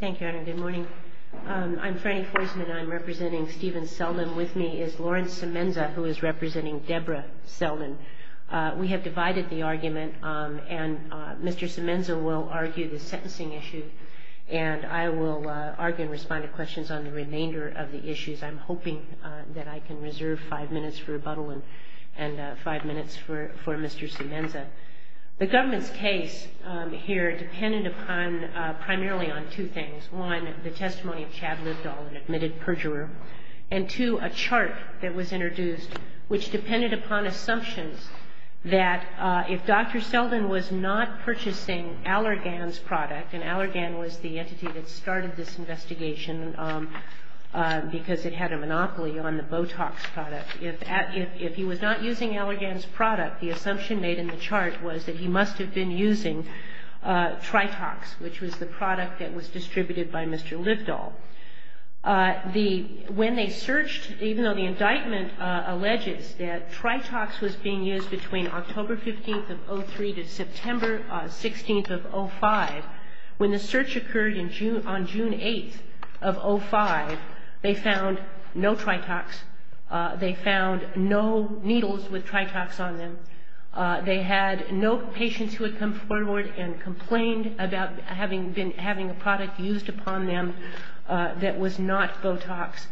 Thank you, Anna. Good morning. I'm Franny Forsman, and I'm representing Stephen Seldon. With me is Lawrence Semenza, who is representing Deborah Seldon. We have divided the argument, and Mr. Semenza will argue the sentencing issue, and I will argue and respond to questions on the remainder of the issues. I'm hoping that I can reserve five minutes for a rebuttal and five minutes for Mr. Semenza. The government's case here depended upon, primarily on two things. One, the testimony of Chad Libdahl, an admitted perjurer. And two, a chart that was introduced, which depended upon assumptions that if Dr. Seldon was not purchasing Allergan's product, and Allergan was the entity that started this investigation because it had a monopoly on the Botox product, if he was not using Allergan's product, the assumption made in the chart was that he must have been using Tritox, which was the product that was distributed by Mr. Libdahl. When they searched, even though the indictment alleges that Tritox was being used between October 15th of 03 to September 16th of 05, when the search occurred on June 8th of 05, they found no Tritox. They found no needles with Tritox on them. They had no patients who had come forward and complained about having a product used upon them that was not Botox.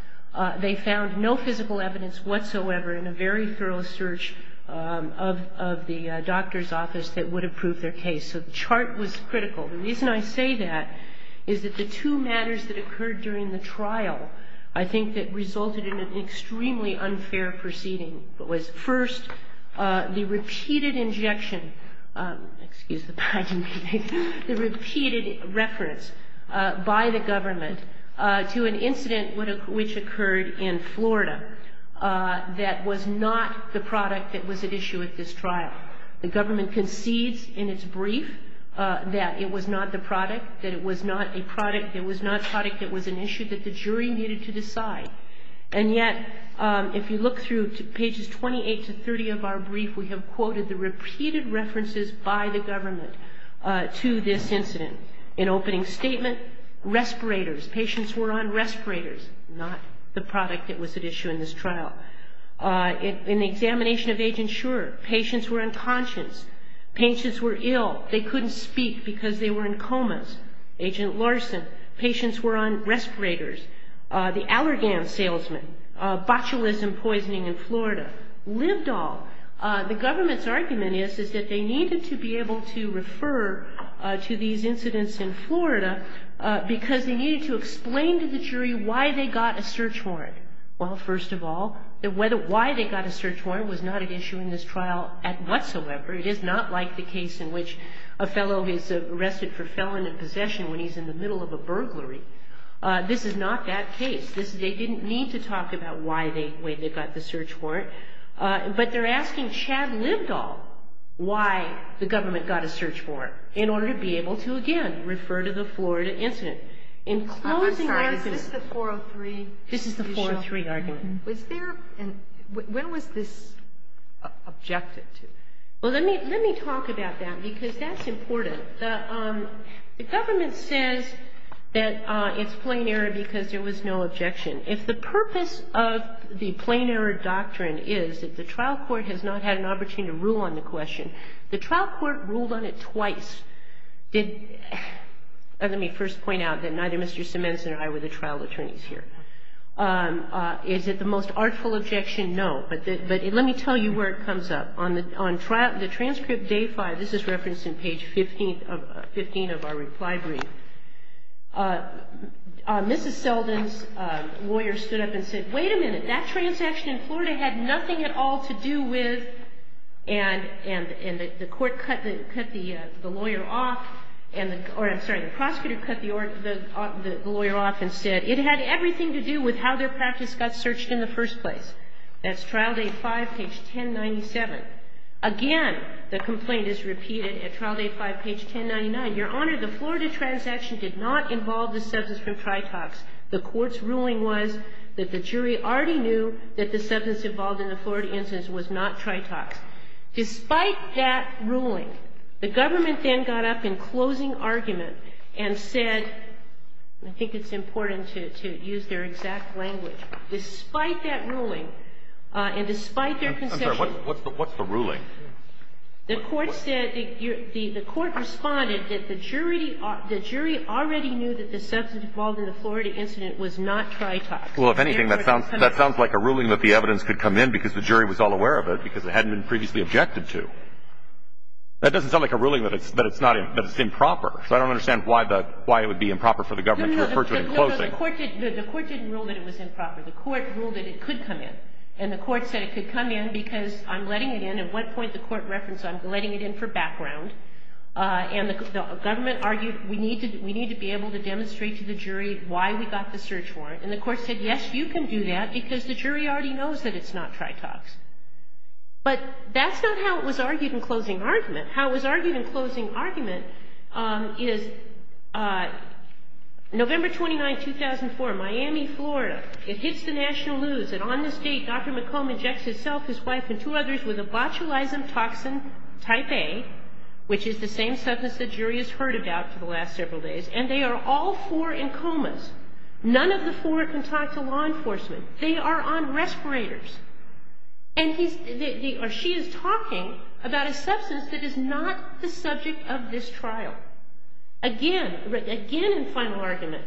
They found no physical evidence whatsoever in a very thorough search of the doctor's office that would have proved their case. So the chart was critical. The reason I say that is that the two matters that occurred during the trial, I think that resulted in an extremely unfair proceeding. It was, first, the repeated injection, excuse the pun, the repeated reference by the government to an incident which occurred in Florida that was not the product that was at issue at this trial. The government concedes in its brief that it was not the product, that it was not a product, it was not a product that was an issue that the jury needed to decide. And yet, if you look through pages 28 to 30 of our brief, we have quoted the repeated references by the government to this incident. In opening statement, respirators, patients were on respirators, not the product that was at issue in this trial. In the examination of Agent Shurer, patients were unconscious. Patients were ill. They couldn't speak because they were in comas. Agent Larson, patients were on respirators. The Allergan Salesman, botulism poisoning in Florida. Libdol, the government's argument is that they needed to be able to refer to these incidents in Florida because they needed to explain to the jury why they got a search warrant. Well, first of all, why they got a search warrant was not at issue in this trial whatsoever. It is not like the case in which a fellow is arrested for felon in possession when he's in the middle of a burglary. This is not that case. They didn't need to talk about why they got the search warrant. But they're asking Chad Libdol why the government got a search warrant in order to be able to, again, refer to the Florida incident. I'm sorry, is this the 403? This is the 403 argument. When was this objected to? Well, let me talk about that because that's important. The government says that it's plain error because there was no objection. If the purpose of the plain error doctrine is that the trial court has not had an opportunity to rule on the question, the trial court ruled on it twice. Let me first point out that neither Mr. Simenson or I were the trial attorneys here. Is it the most artful objection? No, but let me tell you where it comes up. On the transcript day five, this is referenced in page 15 of our reply brief, Mrs. Selden's lawyer stood up and said, wait a minute, that transaction in Florida had nothing at all to do with, and the court cut the lawyer off, or I'm sorry, the prosecutor cut the lawyer off and said, it had everything to do with how their practice got searched in the first place. That's trial day five, page 1097. Again, the complaint is repeated at trial day five, page 1099. Your Honor, the Florida transaction did not involve the substance from Tritox. The court's ruling was that the jury already knew that the substance involved in the Florida incident was not Tritox. Despite that ruling, the government then got up in closing argument and said, and I think it's important to use their exact language, despite that ruling, and despite their conception of it. I'm sorry. What's the ruling? The court said, the court responded that the jury already knew that the substance involved in the Florida incident was not Tritox. Well, if anything, that sounds like a ruling that the evidence could come in because the jury was all aware of it, because it hadn't been previously objected to. That doesn't sound like a ruling that it's improper. So I don't understand why it would be improper for the government to refer to it in closing. The court didn't rule that it was improper. The court ruled that it could come in. And the court said it could come in because I'm letting it in. At one point, the court referenced I'm letting it in for background. And the government argued we need to be able to demonstrate to the jury why we got the search warrant. And the court said, yes, you can do that because the jury already knows that it's not Tritox. But that's not how it was argued in closing argument. How it was argued in closing argument is November 29, 2004, Miami, Florida. It hits the national news. And on this date, Dr. McComb injects himself, his wife, and two others with a botulism toxin type A, which is the same substance the jury has heard about for the last several days. And they are all four in comas. None of the four can talk to law enforcement. They are on respirators. And he's or she is talking about a substance that is not the subject of this trial. Again, again in final argument,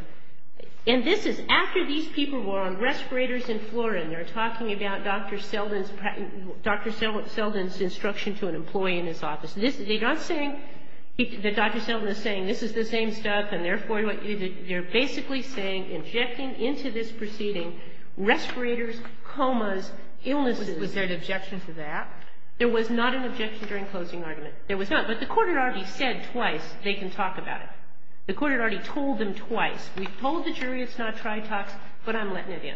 and this is after these people were on respirators in Florida, and they're talking about Dr. Selden's instruction to an employee in his office. They're not saying that Dr. Selden is saying this is the same stuff, and therefore they're basically saying injecting into this proceeding respirators, comas, illnesses. Kagan. Was there an objection to that? There was not an objection during closing argument. There was not. But the court had already said twice they can talk about it. The court had already told them twice. We've told the jury it's not Tritox, but I'm letting it in.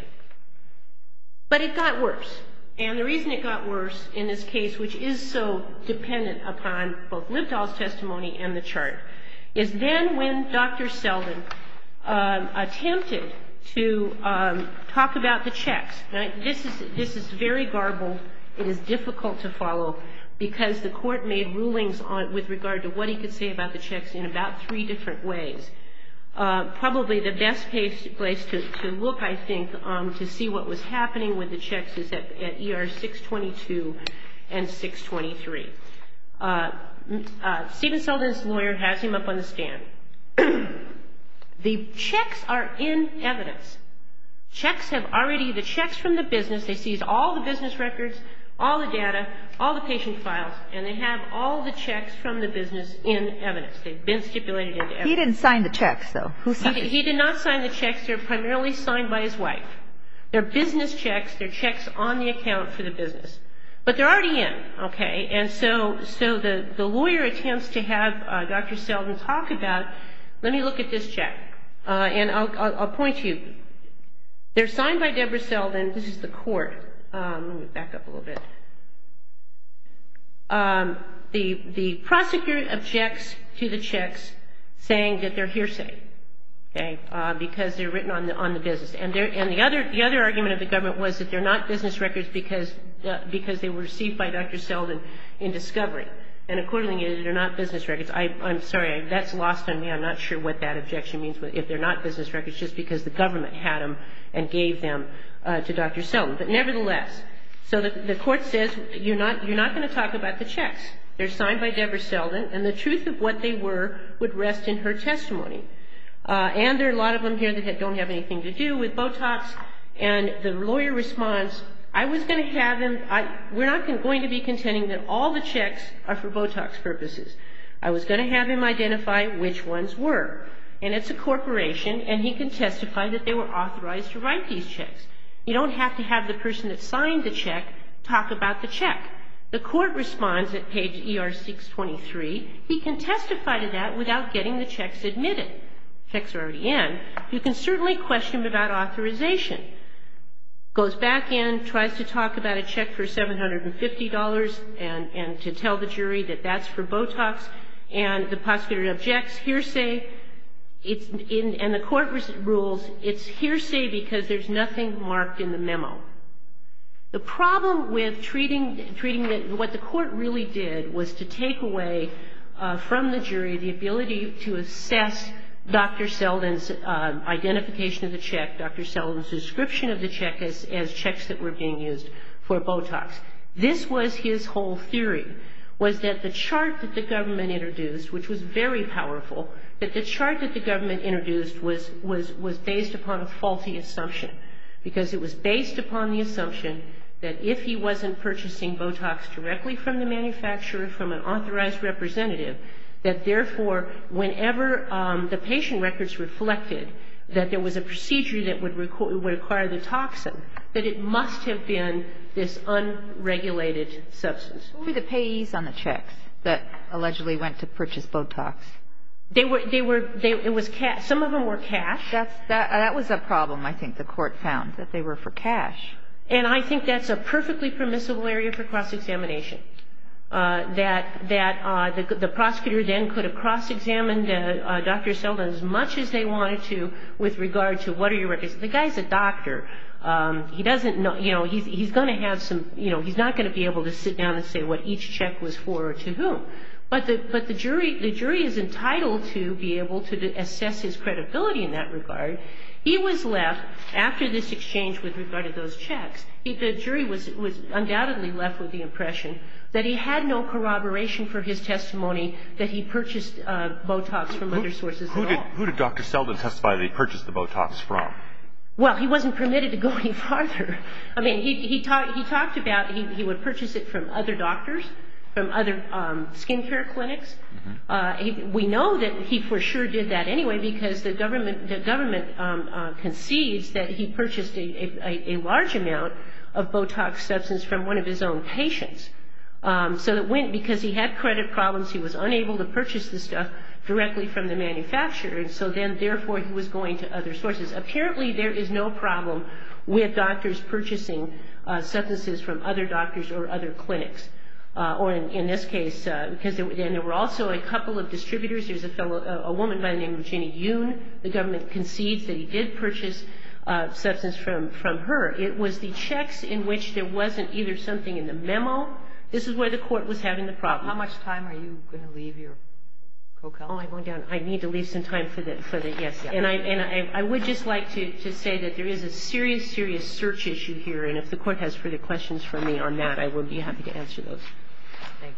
But it got worse. And the reason it got worse in this case, which is so dependent upon both Libdol's testimony and the chart, is then when Dr. Selden attempted to talk about the checks. This is very garbled. It is difficult to follow because the court made rulings with regard to what he could say about the checks in about three different ways. Probably the best place to look, I think, to see what was happening with the checks is at ER 622 and 623. Steven Selden's lawyer has him up on the stand. The checks are in evidence. Checks have already the checks from the business. They seized all the business records, all the data, all the patient files, and they have all the checks from the business in evidence. They've been stipulated in evidence. He didn't sign the checks, though. He did not sign the checks. They're primarily signed by his wife. They're business checks. They're checks on the account for the business. But they're already in. Okay? And so the lawyer attempts to have Dr. Selden talk about, let me look at this check. And I'll point to you. They're signed by Deborah Selden. This is the court. Let me back up a little bit. The prosecutor objects to the checks saying that they're hearsay, okay, because they're written on the business. And the other argument of the government was that they're not business records because they were received by Dr. Selden in discovery. And accordingly, they're not business records. I'm sorry. That's lost on me. I'm not sure what that objection means. If they're not business records just because the government had them and gave them to Dr. Selden. But nevertheless, so the court says you're not going to talk about the checks. They're signed by Deborah Selden, and the truth of what they were would rest in her testimony. And there are a lot of them here that don't have anything to do with Botox. And the lawyer responds, I was going to have him we're not going to be contending that all the checks are for Botox purposes. I was going to have him identify which ones were. And it's a corporation, and he can testify that they were authorized to write these checks. You don't have to have the person that signed the check talk about the check. The court responds at page ER623, he can testify to that without getting the checks admitted. The checks are already in. You can certainly question him about authorization. Goes back in, tries to talk about a check for $750 and to tell the jury that that's for Botox. And the prosecutor objects, hearsay. And the court rules it's hearsay because there's nothing marked in the memo. The problem with treating what the court really did was to take away from the jury the ability to assess Dr. Selden's identification of the check. Dr. Selden's description of the check as checks that were being used for Botox. This was his whole theory, was that the chart that the government introduced, which was very powerful, that the chart that the government introduced was based upon a faulty assumption. Because it was based upon the assumption that if he wasn't purchasing Botox directly from the manufacturer, from an authorized representative, that therefore whenever the patient records reflected that there was a procedure that would require the toxin, that it must have been this unregulated substance. Who were the payees on the checks that allegedly went to purchase Botox? They were, it was cash. Some of them were cash. That was a problem, I think, the court found, that they were for cash. And I think that's a perfectly permissible area for cross-examination, that the prosecutor then could have cross-examined Dr. Selden as much as they wanted to with regard to what are your records. The guy's a doctor. He doesn't know, you know, he's going to have some, you know, he's not going to be able to sit down and say what each check was for or to whom. But the jury is entitled to be able to assess his credibility in that regard. He was left, after this exchange with regard to those checks, the jury was undoubtedly left with the impression that he had no corroboration for his testimony that he purchased Botox from other sources at all. Who did Dr. Selden testify that he purchased the Botox from? Well, he wasn't permitted to go any farther. I mean, he talked about he would purchase it from other doctors, from other skin care clinics. We know that he for sure did that anyway because the government concedes that he purchased a large amount of Botox substance from one of his own patients. So it went because he had credit problems. He was unable to purchase the stuff directly from the manufacturer. And so then, therefore, he was going to other sources. Apparently, there is no problem with doctors purchasing substances from other doctors or other clinics. Or in this case, because then there were also a couple of distributors. There's a woman by the name of Ginny Yoon. The government concedes that he did purchase substance from her. It was the checks in which there wasn't either something in the memo. This is where the Court was having the problem. How much time are you going to leave your co-counsel? Oh, I'm going down. I need to leave some time for the yes. And I would just like to say that there is a serious, serious search issue here. And if the Court has further questions for me on that, I will be happy to answer those. Thank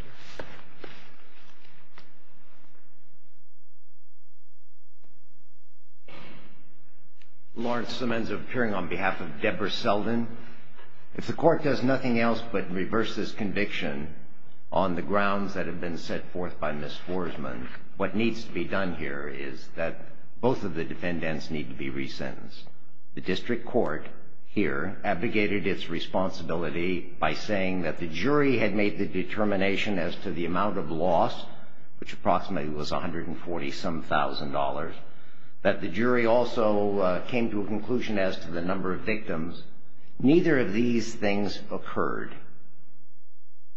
you. Lawrence Semenza, appearing on behalf of Deborah Selden. If the Court does nothing else but reverse this conviction on the grounds that have been set forth by Ms. Forsman, what needs to be done here is that both of the defendants need to be resentenced. The District Court here abdicated its responsibility by saying that the jury had made the determination as to the amount of loss, which approximately was $140-some-thousand, that the jury also came to a conclusion as to the number of victims. Neither of these things occurred.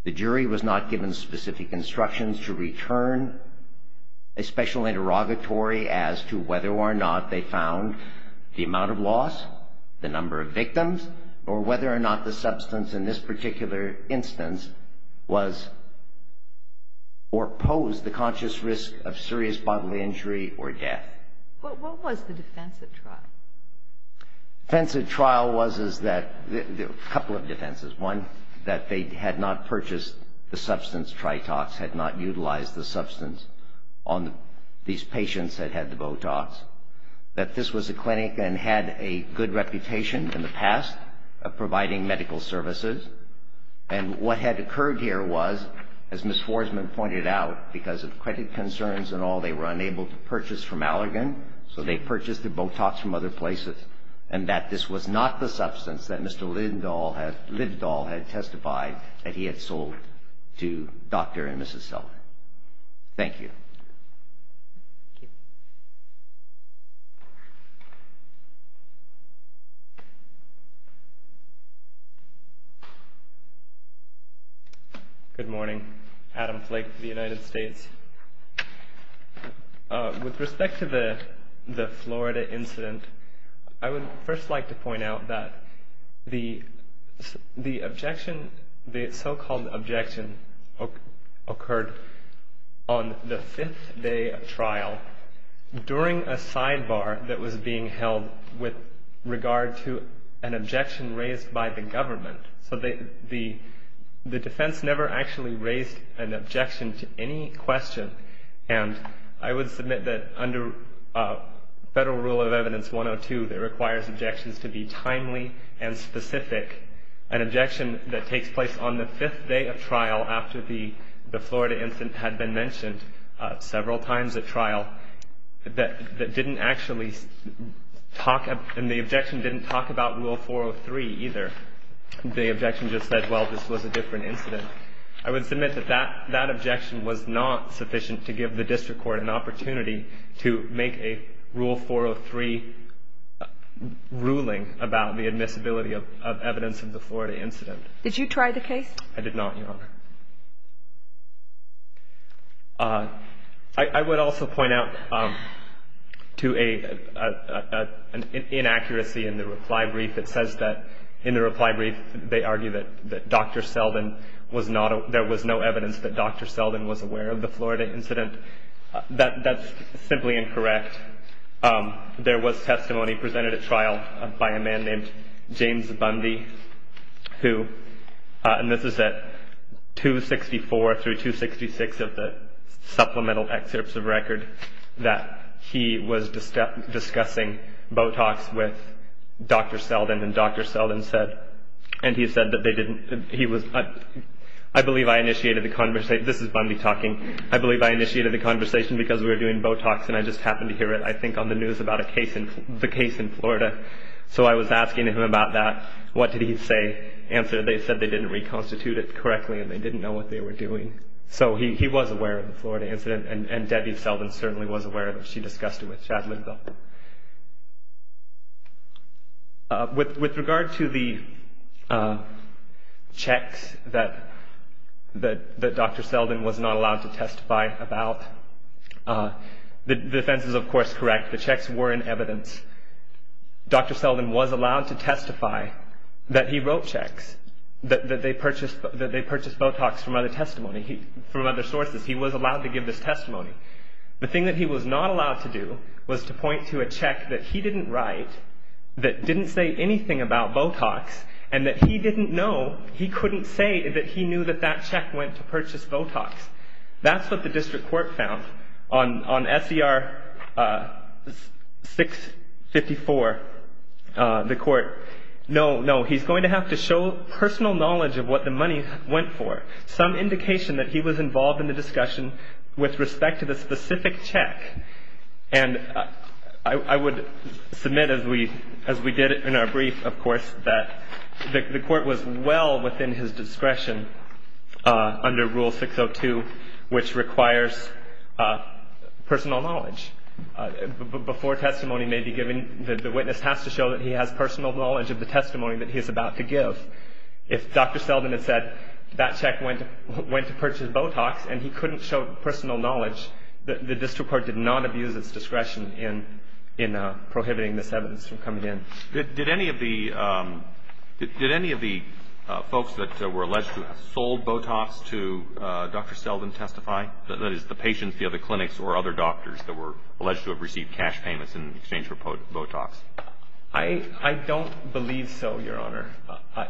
The jury was not given specific instructions to return. A special interrogatory as to whether or not they found the amount of loss, the number of victims, or whether or not the substance in this particular instance was or posed the conscious risk of serious bodily injury or death. What was the defense at trial? The defense at trial was that the couple of defenses. One, that they had not purchased the substance Tritox, had not utilized the substance on these patients that had the Botox. That this was a clinic and had a good reputation in the past of providing medical services. And what had occurred here was, as Ms. Forsman pointed out, because of credit concerns and all, they were unable to purchase from Allergan, so they purchased the Botox from other places, and that this was not the substance that Mr. Lindahl had testified that he had sold to Dr. and Mrs. Seller. Thank you. Good morning. Adam Flake, the United States. With respect to the Florida incident, I would first like to point out that the objection, the so-called objection occurred on the fifth day of trial, during a sidebar that was being held with regard to an objection raised by the government. So the defense never actually raised an objection to any question, and I would submit that under Federal Rule of Evidence 102, it requires objections to be timely and specific. An objection that takes place on the fifth day of trial, after the Florida incident had been mentioned several times at trial, that didn't actually talk, and the objection didn't talk about Rule 403 either. The objection just said, well, this was a different incident. I would submit that that objection was not sufficient to give the district court an opportunity to make a Rule 403 ruling about the admissibility of evidence of the Florida incident. Did you try the case? I did not, Your Honor. I would also point out to an inaccuracy in the reply brief. It says that in the reply brief they argue that Dr. Selden was not, there was no evidence that Dr. Selden was aware of the Florida incident. That's simply incorrect. There was testimony presented at trial by a man named James Bundy, who, and this is at 264 through 266 of the supplemental excerpts of record, that he was discussing Botox with Dr. Selden, and Dr. Selden said, and he said that they didn't, he was, I believe I initiated the conversation, this is Bundy talking, I believe I initiated the conversation because we were doing Botox, and I just happened to hear it, I think, on the news about the case in Florida. So I was asking him about that. What did he say? Answer, they said they didn't reconstitute it correctly and they didn't know what they were doing. So he was aware of the Florida incident, and Debbie Selden certainly was aware of it. She discussed it with Chad Linville. With regard to the checks that Dr. Selden was not allowed to testify about, the defense is, of course, correct. The checks were in evidence. Dr. Selden was allowed to testify that he wrote checks, that they purchased Botox from other testimony, from other sources. He was allowed to give this testimony. The thing that he was not allowed to do was to point to a check that he didn't write, that didn't say anything about Botox, and that he didn't know, he couldn't say that he knew that that check went to purchase Botox. That's what the district court found. On SER 654, the court, no, no, he's going to have to show personal knowledge of what the money went for, some indication that he was involved in the discussion with respect to the specific check. And I would submit, as we did in our brief, of course, that the court was well within his discretion under Rule 602, which requires personal knowledge. Before testimony may be given, the witness has to show that he has personal knowledge of the testimony that he is about to give. If Dr. Selden had said that check went to purchase Botox, and he couldn't show personal knowledge, the district court did not abuse its discretion in prohibiting this evidence from coming in. Did any of the folks that were alleged to have sold Botox to Dr. Selden testify? That is, the patients, the other clinics, or other doctors that were alleged to have received cash payments in exchange for Botox? I don't believe so, Your Honor.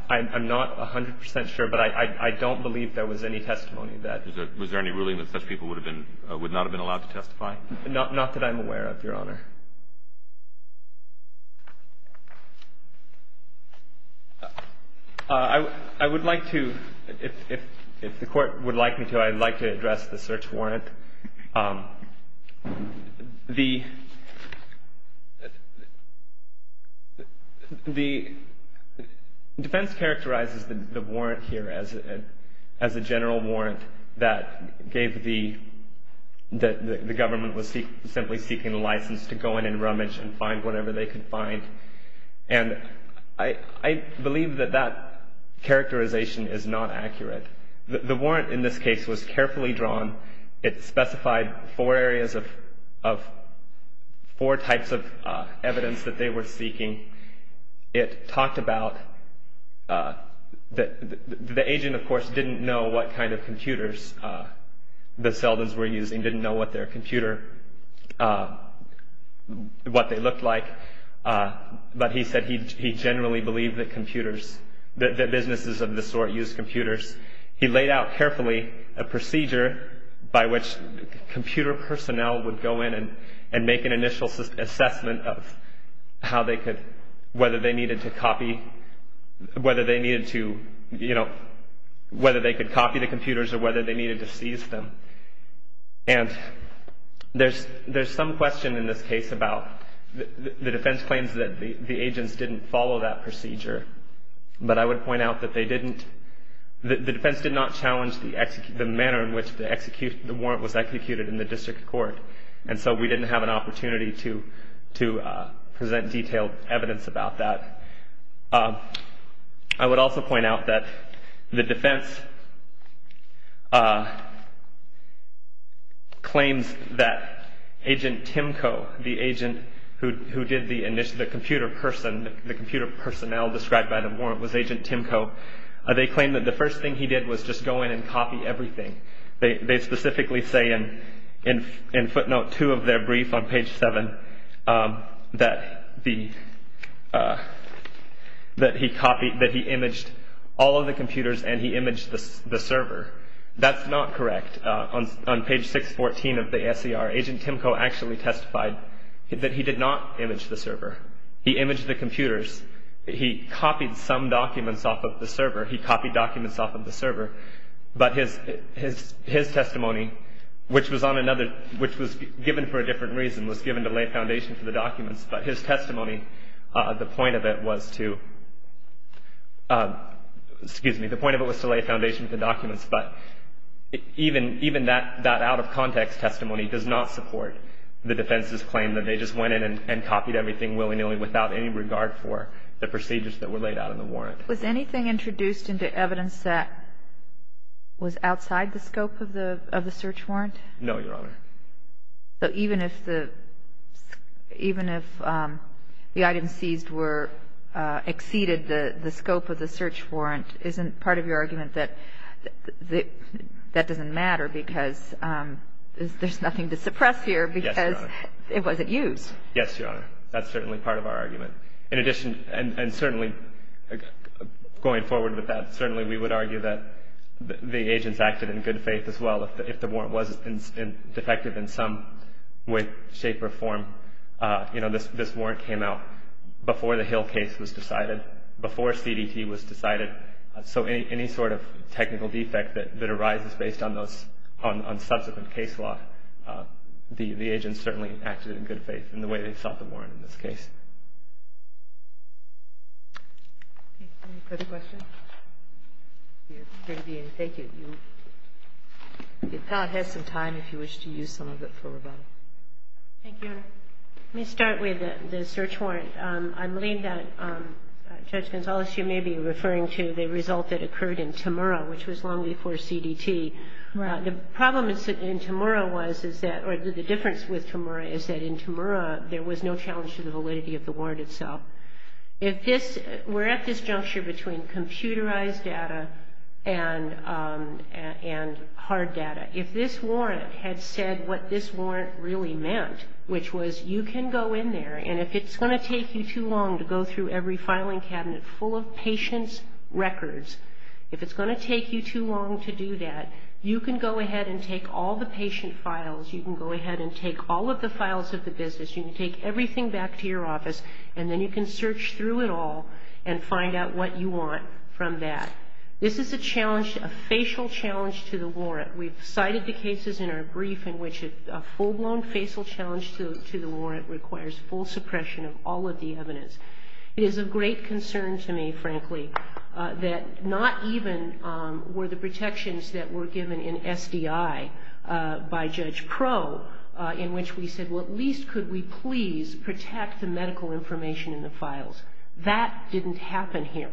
I'm not 100 percent sure, but I don't believe there was any testimony that Was there any ruling that such people would not have been allowed to testify? Not that I'm aware of, Your Honor. I would like to, if the court would like me to, I'd like to address the search warrant. The defense characterizes the warrant here as a general warrant that the government was simply seeking a license to go in and rummage and find whatever they could find, and I believe that that characterization is not accurate. The warrant in this case was carefully drawn. It specified four areas of four types of evidence that they were seeking. It talked about the agent, of course, didn't know what kind of computers the Seldens were using, didn't know what their computer, what they looked like, but he said he generally believed that computers, that businesses of this sort used computers. He laid out carefully a procedure by which computer personnel would go in and make an initial assessment of how they could, whether they needed to copy, whether they needed to, you know, whether they could copy the computers or whether they needed to seize them. And there's some question in this case about the defense claims that the agents didn't follow that procedure, but I would point out that they didn't. The defense did not challenge the manner in which the warrant was executed in the district court, and so we didn't have an opportunity to present detailed evidence about that. I would also point out that the defense claims that Agent Timko, the agent who did the computer person, the computer personnel described by the warrant was Agent Timko. They claimed that the first thing he did was just go in and copy everything. They specifically say in footnote 2 of their brief on page 7 that he copied, that he imaged all of the computers and he imaged the server. That's not correct. On page 614 of the S.E.R., Agent Timko actually testified that he did not image the server. He imaged the computers. He copied some documents off of the server. He copied documents off of the server. But his testimony, which was on another, which was given for a different reason, was given to lay foundation for the documents. But his testimony, the point of it was to, excuse me, the point of it was to lay foundation for the documents, but even that out-of-context testimony does not support the defense's claim that they just went in and copied everything willy-nilly without any regard for the procedures that were laid out in the warrant. Was anything introduced into evidence that was outside the scope of the search warrant? No, Your Honor. So even if the item seized exceeded the scope of the search warrant, isn't part of your argument that that doesn't matter because there's nothing to suppress here because it wasn't used? Yes, Your Honor. That's certainly part of our argument. In addition, and certainly going forward with that, certainly we would argue that the agents acted in good faith as well. If the warrant was defective in some way, shape, or form, this warrant came out before the Hill case was decided, before CDT was decided. So any sort of technical defect that arises based on subsequent case law, the agents certainly acted in good faith in the way they sought the warrant in this case. Any further questions? Thank you. The appellate has some time if you wish to use some of it for rebuttal. Thank you, Your Honor. Let me start with the search warrant. I believe that Judge Gonzales, you may be referring to the result that occurred in Temura, which was long before CDT. Right. The problem in Temura was, or the difference with Temura, is that in Temura there was no challenge to the validity of the warrant itself. We're at this juncture between computerized data and hard data. If this warrant had said what this warrant really meant, which was you can go in there, and if it's going to take you too long to go through every filing cabinet full of patients' records, if it's going to take you too long to do that, you can go ahead and take all the patient files, you can go ahead and take all of the files of the business, you can take everything back to your office, and then you can search through it all and find out what you want from that. This is a challenge, a facial challenge to the warrant. We've cited the cases in our brief in which a full-blown facial challenge to the warrant requires full suppression of all of the evidence. It is of great concern to me, frankly, that not even were the protections that were given in SDI by Judge Pro in which we said, well, at least could we please protect the medical information in the files. That didn't happen here.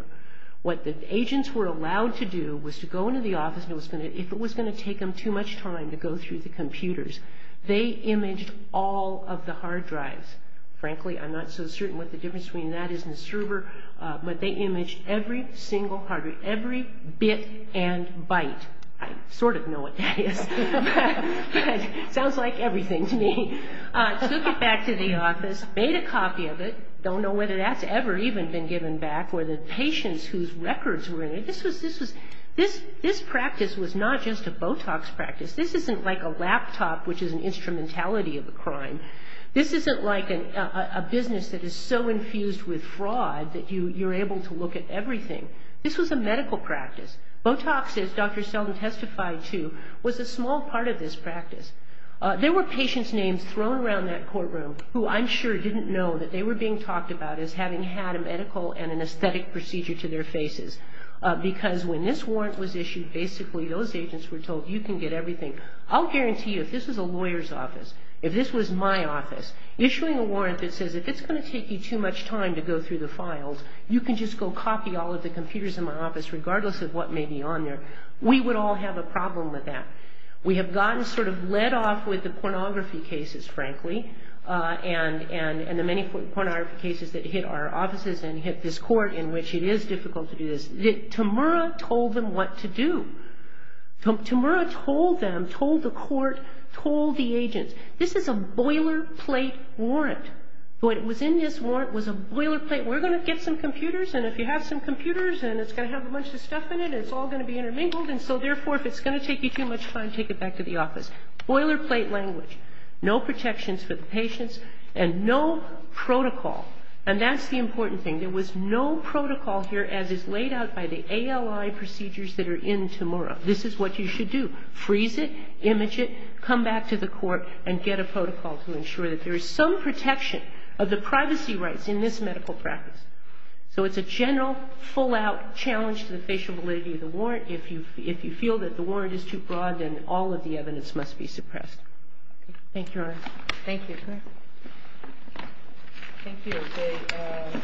What the agents were allowed to do was to go into the office, and if it was going to take them too much time to go through the computers, they imaged all of the hard drives. Frankly, I'm not so certain what the difference between that is and the server, but they imaged every single hard drive, every bit and byte. I sort of know what that is. It sounds like everything to me. Took it back to the office, made a copy of it. Don't know whether that's ever even been given back, or the patients whose records were in it. This practice was not just a Botox practice. This isn't like a laptop, which is an instrumentality of a crime. This isn't like a business that is so infused with fraud that you're able to look at everything. This was a medical practice. Botox, as Dr. Selden testified to, was a small part of this practice. There were patients' names thrown around that courtroom who I'm sure didn't know that they were being talked about as having had a medical and an aesthetic procedure to their faces, because when this warrant was issued, basically those agents were told, you can get everything. I'll guarantee you, if this was a lawyer's office, if this was my office, issuing a warrant that says, if it's going to take you too much time to go through the files, you can just go copy all of the computers in my office, regardless of what may be on there, we would all have a problem with that. We have gotten sort of led off with the pornography cases, frankly, and the many pornography cases that hit our offices and hit this court, in which it is difficult to do this. Tamura told them what to do. Tamura told them, told the court, told the agents, this is a boilerplate warrant. What was in this warrant was a boilerplate. We're going to get some computers, and if you have some computers, and it's going to have a bunch of stuff in it, it's all going to be intermingled, and so, therefore, if it's going to take you too much time, take it back to the office. Boilerplate language. No protections for the patients, and no protocol. And that's the important thing. There was no protocol here as is laid out by the ALI procedures that are in Tamura. This is what you should do. Freeze it, image it, come back to the court, and get a protocol to ensure that there is some protection of the privacy rights in this medical practice. So it's a general, full-out challenge to the facial validity of the warrant if you feel that the warrant is too broad and all of the evidence must be suppressed. Thank you, Your Honor. Thank you. Thank you. The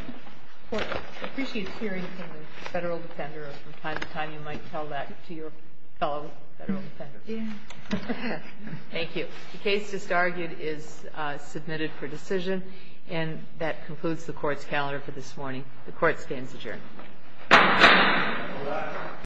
Court appreciates hearing from the Federal Defender. From time to time, you might tell that to your fellow Federal Defenders. Thank you. The case just argued is submitted for decision, and that concludes the Court's calendar for this morning. The Court stands adjourned. All rise.